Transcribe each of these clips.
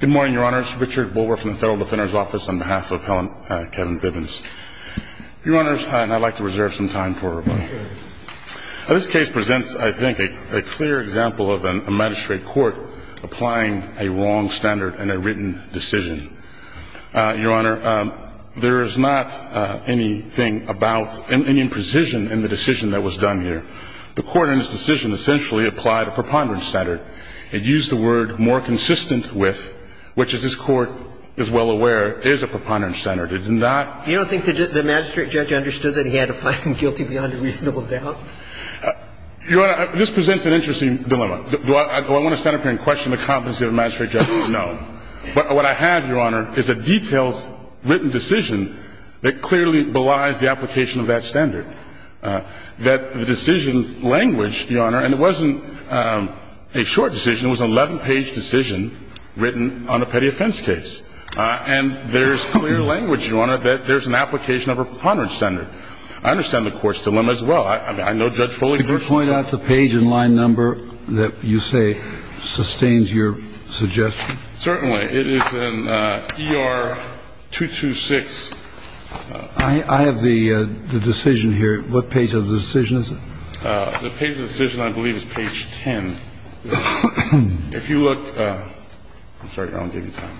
Good morning, Your Honor. It's Richard Bulwer from the Federal Defender's Office on behalf of Kevin Bibbins. Your Honor, and I'd like to reserve some time for rebuttal. This case presents, I think, a clear example of an magistrate court applying a wrong standard in a written decision. Your Honor, there is not anything about any imprecision in the decision that was done here. The court in this decision essentially applied a preponderance standard. It used the word, more consistent with, which as this Court is well aware, is a preponderance standard. It's not You don't think the magistrate judge understood that he had to find him guilty beyond a reasonable doubt? Your Honor, this presents an interesting dilemma. Do I want to stand up here and question the competency of a magistrate judge? No. What I have, Your Honor, is a detailed written decision that clearly belies the application of that standard, that the decision language, Your Honor, and it wasn't a short decision. It was an 11-page decision written on a petty offense case. And there's clear language, Your Honor, that there's an application of a preponderance standard. I understand the Court's dilemma as well. I know Judge Foley very well. Could you point out the page and line number that you say sustains your suggestion? Certainly. It is an ER-226. I have the decision here. What page of the decision is it? The page of the decision, I believe, is page 10. If you look – I'm sorry. I won't give you time.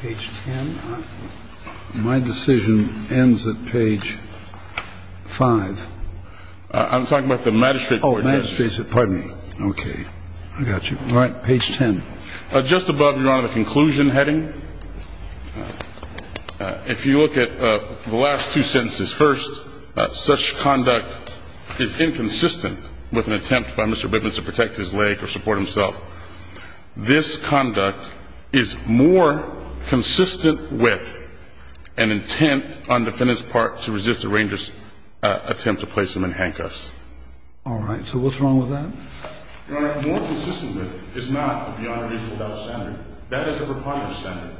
Page 10. My decision ends at page 5. I'm talking about the magistrate court judgment. Oh, magistrate. Pardon me. Okay. I got you. All right. Page 10. Just above, Your Honor, the conclusion heading, if you look at the last two sentences, first, such conduct is inconsistent with an attempt by Mr. Bittman to protect his leg or support himself. This conduct is more consistent with an intent on the defendant's part to resist the ranger's attempt to place him in handcuffs. All right. So what's wrong with that? Your Honor, more consistent with is not a beyond a reasonable doubt standard. That is a preponderant standard.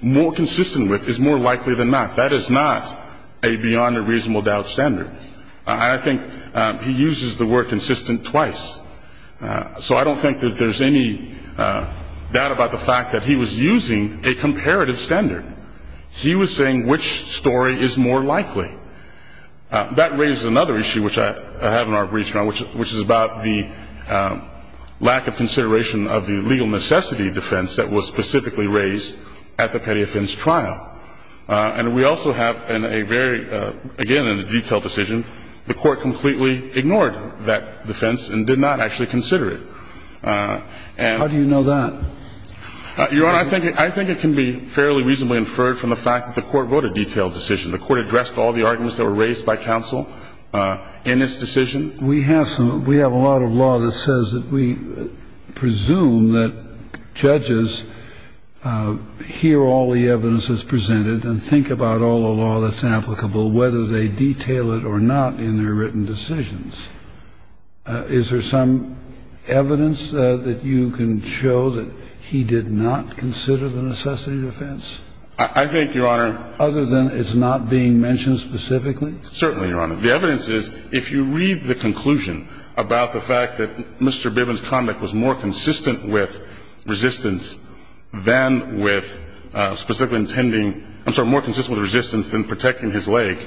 More consistent with is more likely than not. That is not a beyond a reasonable doubt standard. I think he uses the word consistent twice. So I don't think that there's any doubt about the fact that he was using a comparative standard. He was saying which story is more likely. That raises another issue, which I have not reached on, which is about the lack of consideration of the legal necessity defense that was specifically raised at the Petty Offense trial. And we also have in a very, again, in a detailed decision, the Court completely ignored that defense and did not actually consider it. How do you know that? Your Honor, I think it can be fairly reasonably inferred from the fact that the Court wrote a detailed decision. The Court addressed all the arguments that were raised by counsel in this decision. We have a lot of law that says that we presume that judges hear all the evidence that's presented and think about all the law that's applicable, whether they detail it or not in their written decisions. Is there some evidence that you can show that he did not consider the necessity defense? I think, Your Honor. Other than it's not being mentioned specifically? Certainly, Your Honor. The evidence is, if you read the conclusion about the fact that Mr. Bivens' conduct was more consistent with resistance than with specifically intending – I'm sorry, more consistent with resistance than protecting his leg,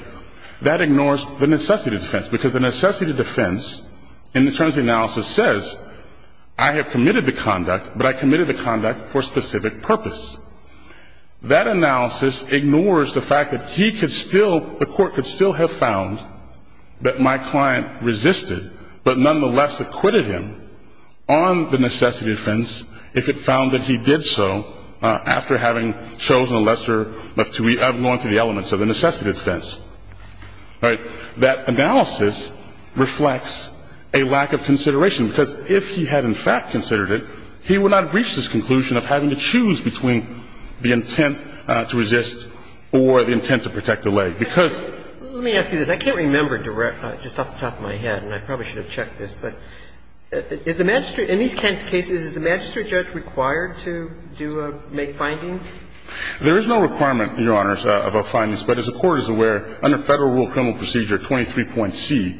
that ignores the necessity defense, because the necessity defense in the terms of the analysis says I have committed the conduct, but I committed the conduct for a specific purpose. That analysis ignores the fact that he could still – the Court could still have found that my client resisted, but nonetheless acquitted him on the necessity defense if it found that he did so after having chosen a lesser of two – of going through the elements of the necessity defense. Right? So that analysis reflects a lack of consideration, because if he had in fact considered it, he would not have reached this conclusion of having to choose between the intent to resist or the intent to protect the leg, because – Let me ask you this. I can't remember just off the top of my head, and I probably should have checked this, but is the magistrate – in these kinds of cases, is the magistrate judge required to do – make findings? There is no requirement, Your Honors, about findings, but as the Court is aware, under Federal Rule of Criminal Procedure 23.C,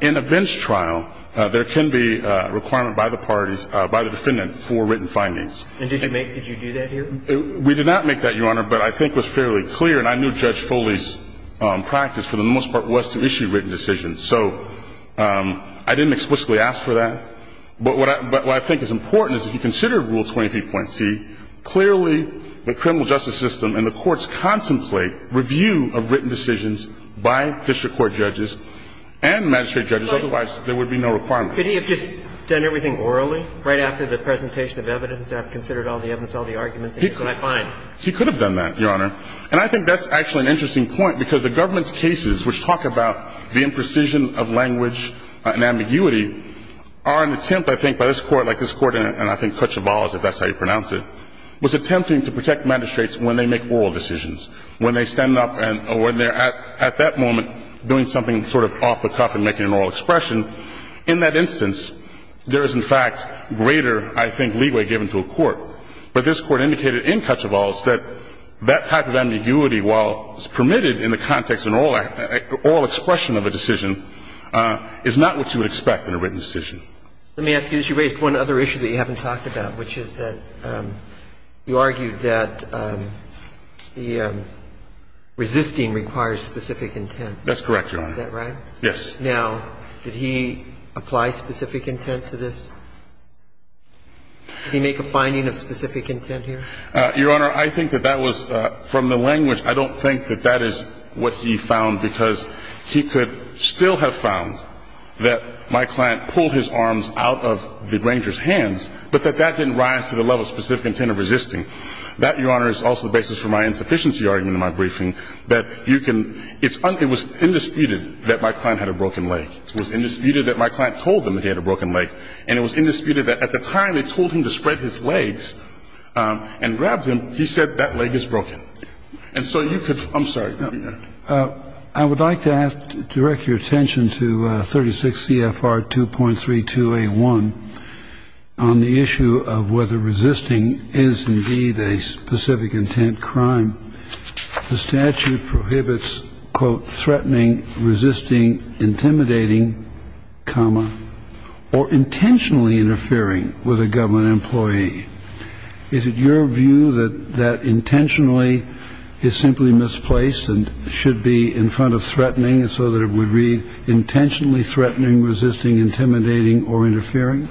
in a bench trial, there can be a requirement by the parties – by the defendant for written findings. And did you make – did you do that here? We did not make that, Your Honor, but I think it was fairly clear, and I knew Judge Foley's practice for the most part was to issue written decisions. So I didn't explicitly ask for that. But what I – but what I think is important is if you consider Rule 23.C, clearly the criminal justice system and the courts contemplate review of written decisions by district court judges and magistrate judges. Otherwise, there would be no requirement. Could he have just done everything orally right after the presentation of evidence and considered all the evidence, all the arguments? He could. He could have done that, Your Honor. And I think that's actually an interesting point, because the government's cases which talk about the imprecision of language and ambiguity are an attempt, I think, by this Court, like this Court in, I think, Cochaballa's, if that's how you're going to pronounce it, was attempting to protect magistrates when they make oral decisions, when they stand up and when they're at that moment doing something sort of off the cuff and making an oral expression. In that instance, there is, in fact, greater, I think, leeway given to a court. But this Court indicated in Cochaballa's that that type of ambiguity, while it's permitted in the context of an oral expression of a decision, is not what you would expect in a written decision. Let me ask you this. You raised one other issue that you haven't talked about, which is that you argued that the resisting requires specific intent. That's correct, Your Honor. Is that right? Yes. Now, did he apply specific intent to this? Did he make a finding of specific intent here? Your Honor, I think that that was from the language. I don't think that that is what he found, because he could still have found that my client pulled his arms out of the ranger's hands, but that that didn't rise to the level of specific intent of resisting. That, Your Honor, is also the basis for my insufficiency argument in my briefing, that you can – it was undisputed that my client had a broken leg. It was undisputed that my client told him he had a broken leg, and it was undisputed that at the time they told him to spread his legs and grab them, he said that leg is broken. And so you could – I'm sorry. I would like to ask – direct your attention to 36 CFR 2.32A1 on the issue of whether resisting is indeed a specific intent crime. The statute prohibits, quote, threatening, resisting, intimidating, comma, or intentionally interfering with a government employee. Is it your view that that intentionally is simply misplaced and should be in front of threatening so that it would read, intentionally threatening, resisting, intimidating, or interfering?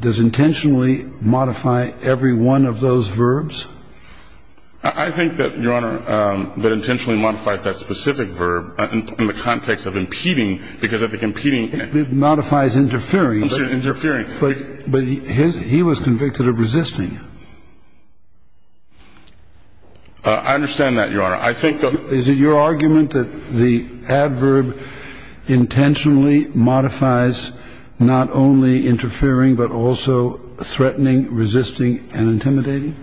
Does intentionally modify every one of those verbs? I think that, Your Honor, that intentionally modifies that specific verb in the context of impeding, because if it – It modifies interfering. Interfering. But he was convicted of resisting. I understand that, Your Honor. I think that – Is it your argument that the adverb intentionally modifies not only interfering but also threatening, resisting, and intimidating?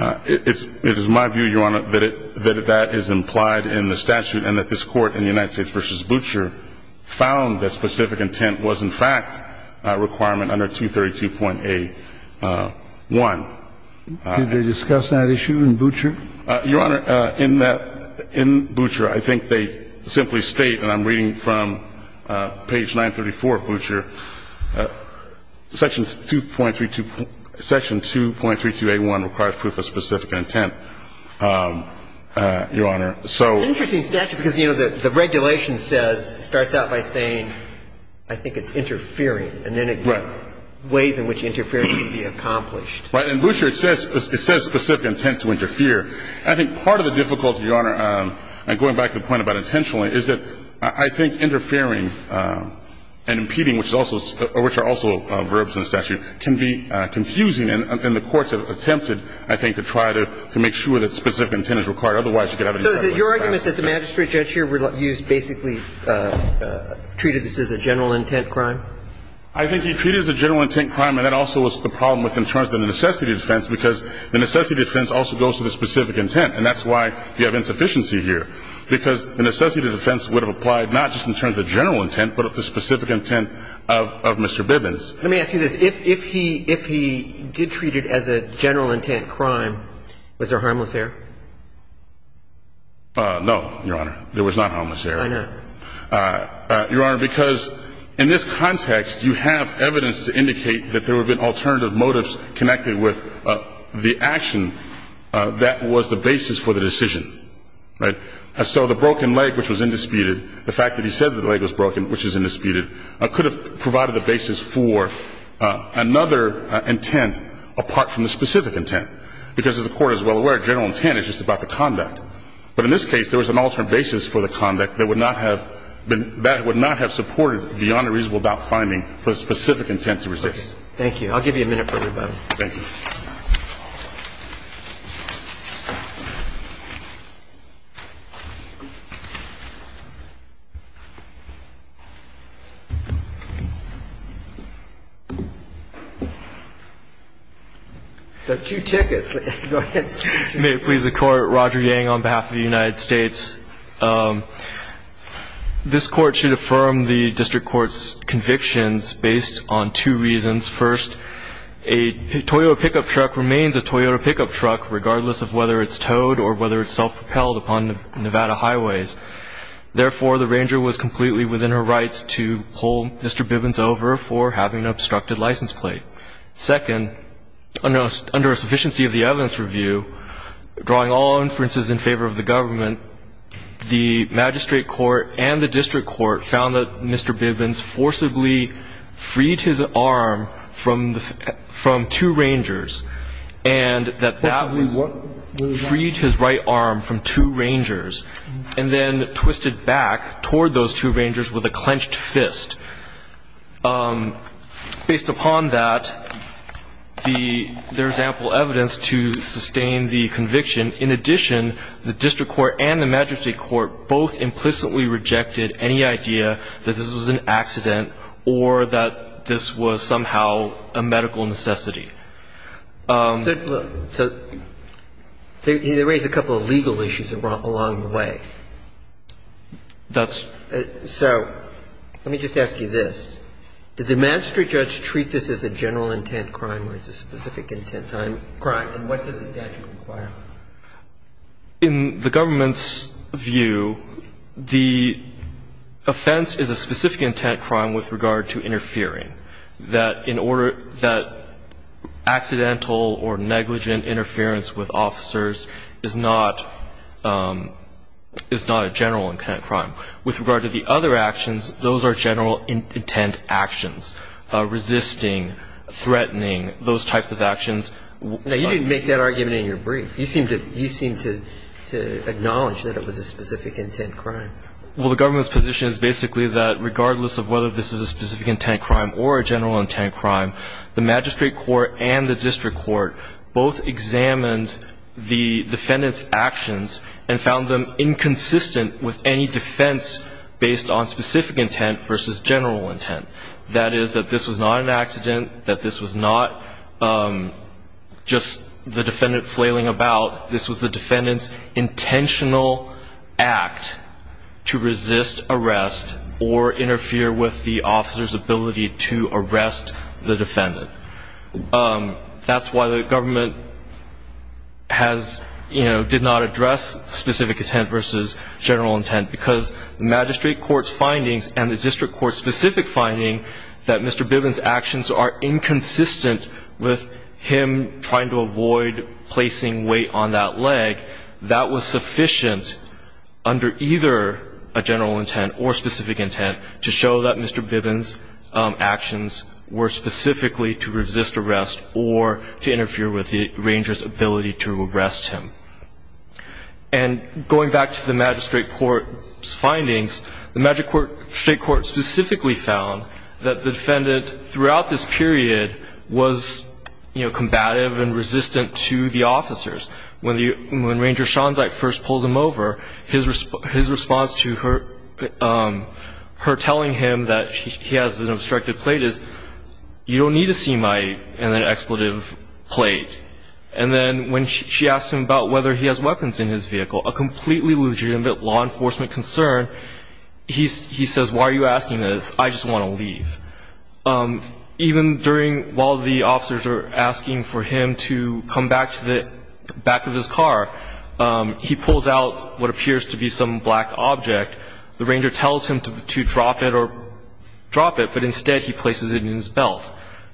It is my view, Your Honor, that that is implied in the statute and that this Court in the particular environment under 232.A1. Do they discuss that issue in Butcher? Your Honor, in that – in Butcher, I think they simply state, and I'm reading from page 934 of Butcher, section 2.32A1 requires proof of specific intent, Your Honor. So – It's an interesting statute because, you know, the regulation says – starts out by saying, I think it's interfering. Right. And then it gives ways in which interference can be accomplished. Right. In Butcher, it says – it says specific intent to interfere. I think part of the difficulty, Your Honor, going back to the point about intentionally, is that I think interfering and impeding, which is also – which are also verbs in the statute, can be confusing. And the courts have attempted, I think, to try to make sure that specific intent is Otherwise, you could have – So is it your argument that the magistrate judge here used basically – treated this as a general intent crime? I think he treated it as a general intent crime, and that also was the problem with in terms of the necessity defense, because the necessity defense also goes to the specific intent. And that's why you have insufficiency here, because the necessity defense would have applied not just in terms of general intent, but of the specific intent of Mr. Bibbins. Let me ask you this. If he – if he did treat it as a general intent crime, was there harmless error? No, Your Honor. There was not harmless error. I hear. Your Honor, because in this context, you have evidence to indicate that there would have been alternative motives connected with the action that was the basis for the decision. Right? So the broken leg, which was indisputed, the fact that he said the leg was broken, which is indisputed, could have provided a basis for another intent apart from the specific intent. Because as the Court is well aware, general intent is just about the conduct. But in this case, there was an alternate basis for the conduct that would not have been – that would not have supported beyond a reasonable doubt finding for a specific intent to resist. Thank you. I'll give you a minute for rebuttal. Thank you. There are two tickets. Go ahead. May it please the Court. Roger Yang on behalf of the United States. This Court should affirm the District Court's convictions based on two reasons. First, a Toyota pickup truck remains a Toyota pickup truck regardless of whether it's towed or whether it's self-propelled upon Nevada highways. Therefore, the ranger was completely within her rights to pull Mr. Bibbins over for having an obstructed license plate. Second, under a sufficiency of the evidence review, drawing all inferences in favor of the government, the magistrate court and the district court found that Mr. Bibbins forcibly freed his arm from two rangers and that that was freed his right arm from two rangers and then twisted back toward those two rangers with a clenched fist. Based upon that, there is ample evidence to sustain the conviction. In addition, the district court and the magistrate court both implicitly rejected any idea that this was an accident or that this was somehow a medical necessity. So there is a couple of legal issues along the way. That's So let me just ask you this. Did the magistrate judge treat this as a general intent crime or as a specific intent crime? And what does the statute require? In the government's view, the offense is a specific intent crime with regard to interfering, that in order that accidental or negligent interference with officers is not, is not a general intent crime. With regard to the other actions, those are general intent actions, resisting, threatening, those types of actions. Now, you didn't make that argument in your brief. You seemed to acknowledge that it was a specific intent crime. Well, the government's position is basically that regardless of whether this is a specific intent crime or a general intent crime, the magistrate court and the district court both examined the defendant's actions and found them inconsistent with any defense based on specific intent versus general intent. That is, that this was not an accident, that this was not just the defendant flailing about. This was the defendant's intentional act to resist arrest or interfere with the officer's ability to arrest the defendant. That's why the government has, you know, did not address specific intent versus general intent, because the magistrate court's findings and the district court's specific finding that Mr. Bivens' actions are inconsistent with him trying to avoid placing weight on that leg, that was sufficient under either a general intent or specific intent to show that Mr. Bivens' actions were specifically to resist arrest or to interfere with the arranger's ability to arrest him. And going back to the magistrate court's findings, the magistrate court specifically found that the defendant throughout this period was, you know, combative and resistant to the officers. When Ranger Shanzak first pulled him over, his response to her telling him that he has an obstructed plate is, you don't need a CMI in an expletive plate. And then when she asked him about whether he has weapons in his vehicle, a completely legitimate law enforcement concern, he says, why are you asking this? I just want to leave. Even during while the officers are asking for him to come back to the back of his car, he pulls out what appears to be some black object. The ranger tells him to drop it or drop it, but instead he places it in his belt.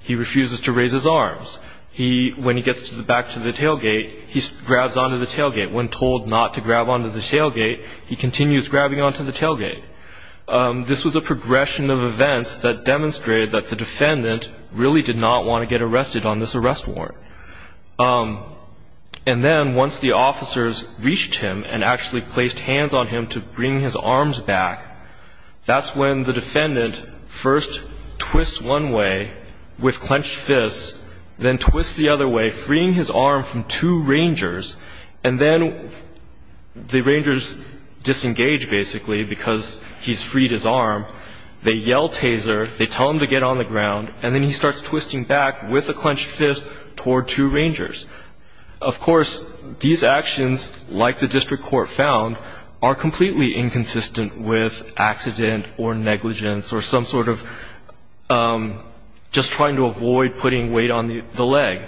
He refuses to raise his arms. He, when he gets back to the tailgate, he grabs onto the tailgate. When told not to grab onto the tailgate, he continues grabbing onto the tailgate. This was a progression of events that demonstrated that the defendant really did not want to get arrested on this arrest warrant. And then once the officers reached him and actually placed hands on him to bring his arms back, that's when the defendant first twists one way with clenched fists, then twists the other way, freeing his arm from two rangers, and then the rangers disengage basically because he's freed his arm. They yell taser. They tell him to get on the ground. And then he starts twisting back with a clenched fist toward two rangers. Of course, these actions, like the district court found, are completely inconsistent with accident or negligence or some sort of just trying to avoid putting weight on the leg.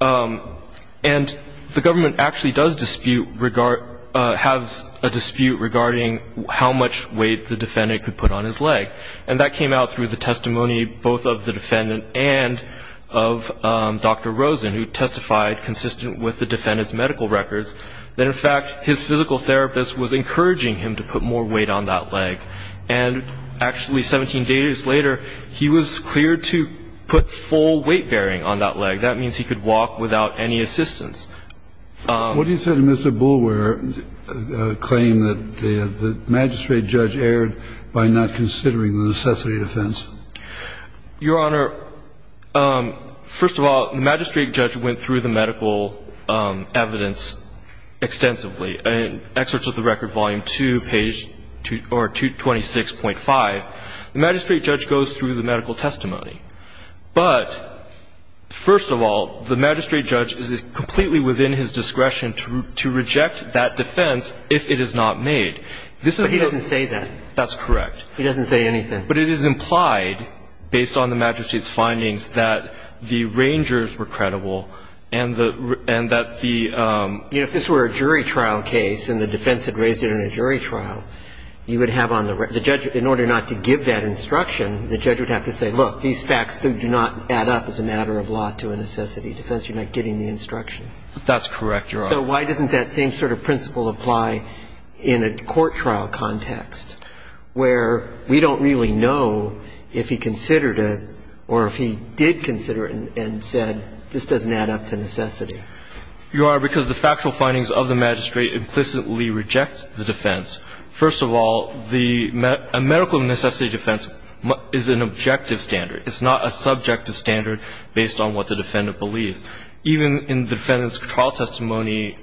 And the government actually does dispute, has a dispute regarding how much weight the defendant could put on his leg. And that came out through the testimony both of the defendant and of Dr. Rosen, who testified consistent with the defendant's medical records that, in fact, his physical therapist was encouraging him to put more weight on that leg. And actually 17 days later, he was cleared to put full weight bearing on that leg. That means he could walk without any assistance. What do you say to Mr. Boulware's claim that the magistrate judge erred by not considering the necessity defense? Your Honor, first of all, the magistrate judge went through the medical evidence extensively. In Excerpts of the Record, Volume 2, page 226.5, the magistrate judge goes through the medical testimony. But first of all, the magistrate judge is completely within his discretion to reject that defense if it is not made. This is not the case. But he doesn't say that. That's correct. He doesn't say anything. But it is implied, based on the magistrate's findings, that the rangers were credible and that the ---- You know, if this were a jury trial case and the defense had raised it in a jury trial, you would have on the ---- the judge, in order not to give that instruction, the judge would have to say, look, these facts do not add up as a matter of law to a necessity defense. You're not getting the instruction. That's correct, Your Honor. So why doesn't that same sort of principle apply in a court trial context, where we don't really know if he considered it or if he did consider it and said, this doesn't add up to necessity? Your Honor, because the factual findings of the magistrate implicitly reject the defense. First of all, the medical necessity defense is an objective standard. It's not a subjective standard based on what the defendant believes. Even in the defendant's trial testimony,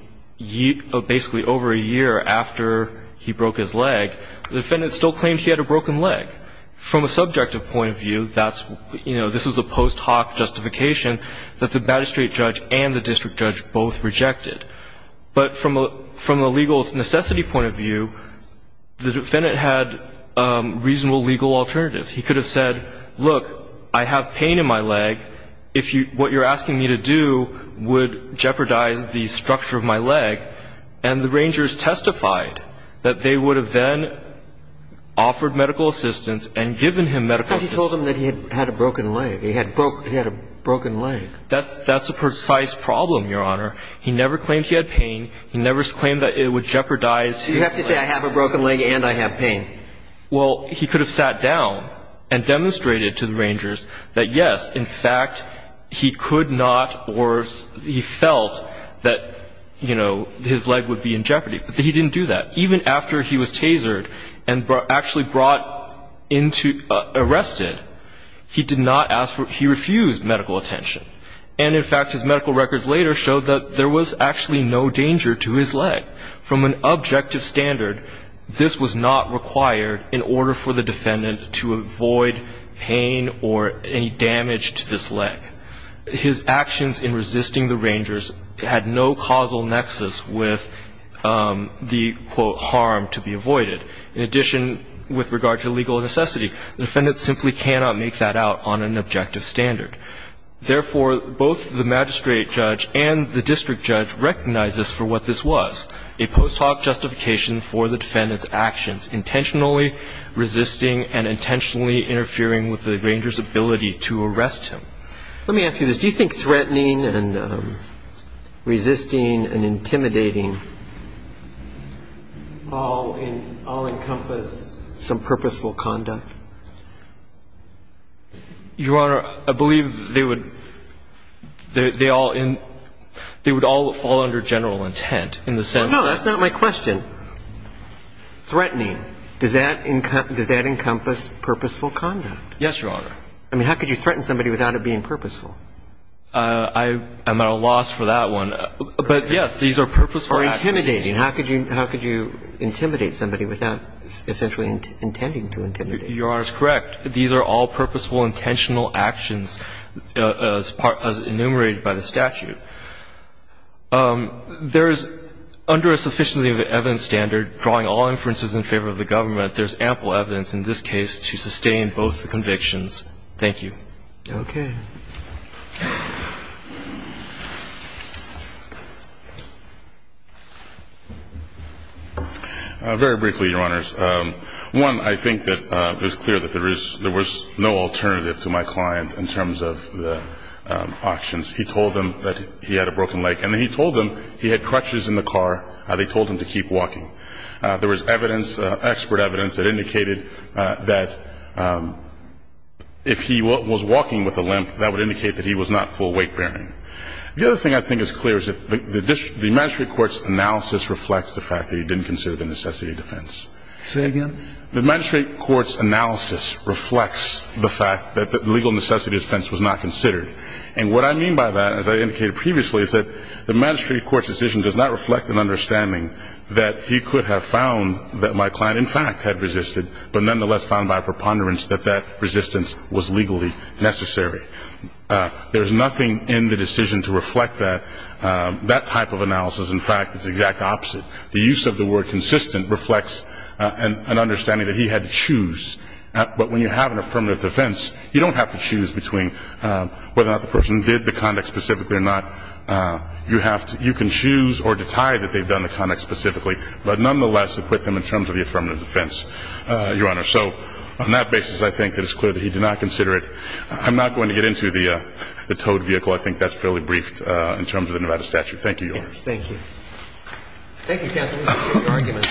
basically over a year after he broke his leg, the defendant still claimed he had a broken leg. From a subjective point of view, that's, you know, this was a post hoc justification that the magistrate judge and the district judge both rejected. But from a legal necessity point of view, the defendant had reasonable legal alternatives. He could have said, look, I have pain in my leg. If you ---- what you're asking me to do would jeopardize the structure of my leg. And the rangers testified that they would have then offered medical assistance and given him medical assistance. But he told them that he had a broken leg. He had a broken leg. That's a precise problem, Your Honor. He never claimed he had pain. He never claimed that it would jeopardize his leg. You have to say I have a broken leg and I have pain. Well, he could have sat down and demonstrated to the rangers that, yes, in fact, he could not or he felt that, you know, his leg would be in jeopardy. But he didn't do that. Even after he was tasered and actually brought into ---- arrested, he did not ask for ---- he refused medical attention. And, in fact, his medical records later showed that there was actually no danger to his leg. From an objective standard, this was not required in order for the defendant to avoid pain or any damage to this leg. His actions in resisting the rangers had no causal nexus with the, quote, harm to be avoided. In addition, with regard to legal necessity, the defendant simply cannot make that out on an objective standard. Therefore, both the magistrate judge and the district judge recognized this for what this was, a post hoc justification for the defendant's actions, intentionally resisting and intentionally interfering with the ranger's ability to arrest him. Let me ask you this. Do you think threatening and resisting and intimidating all in ---- all encompass some purposeful conduct? Your Honor, I believe they would ---- they all in ---- they would all fall under general intent in the sense that ---- That's not my question. Threatening, does that encompass purposeful conduct? Yes, Your Honor. I mean, how could you threaten somebody without it being purposeful? I'm at a loss for that one. But, yes, these are purposeful actions. Or intimidating. How could you intimidate somebody without essentially intending to intimidate them? Your Honor's correct. These are all purposeful, intentional actions as enumerated by the statute. There is, under a sufficiency of evidence standard, drawing all inferences in favor of the government, there's ample evidence in this case to sustain both the convictions. Thank you. Okay. Very briefly, Your Honors. One, I think that it was clear that there is no alternative to my client in terms of the auctions. He told them that he had a broken leg and he told them he had crutches in the car and they told him to keep walking. There was evidence, expert evidence, that indicated that if he was walking with a limp, that would indicate that he was not full weight bearing. The other thing I think is clear is that the magistrate court's analysis reflects the fact that he didn't consider the necessity of defense. Say again? The magistrate court's analysis reflects the fact that the legal necessity of defense was not considered. And what I mean by that, as I indicated previously, is that the magistrate court's decision does not reflect an understanding that he could have found that my client, in fact, had resisted, but nonetheless found by a preponderance that that resistance was legally necessary. There's nothing in the decision to reflect that type of analysis. In fact, it's the exact opposite. The use of the word consistent reflects an understanding that he had to choose. But when you have an affirmative defense, you don't have to choose between whether or not the person did the conduct specifically or not. You have to – you can choose or detide that they've done the conduct specifically, but nonetheless equip them in terms of the affirmative defense, Your Honor. So on that basis, I think that it's clear that he did not consider it. I'm not going to get into the towed vehicle. I think that's fairly brief in terms of the Nevada statute. Thank you, Your Honor. Thank you. Thank you, counsel. No further arguments.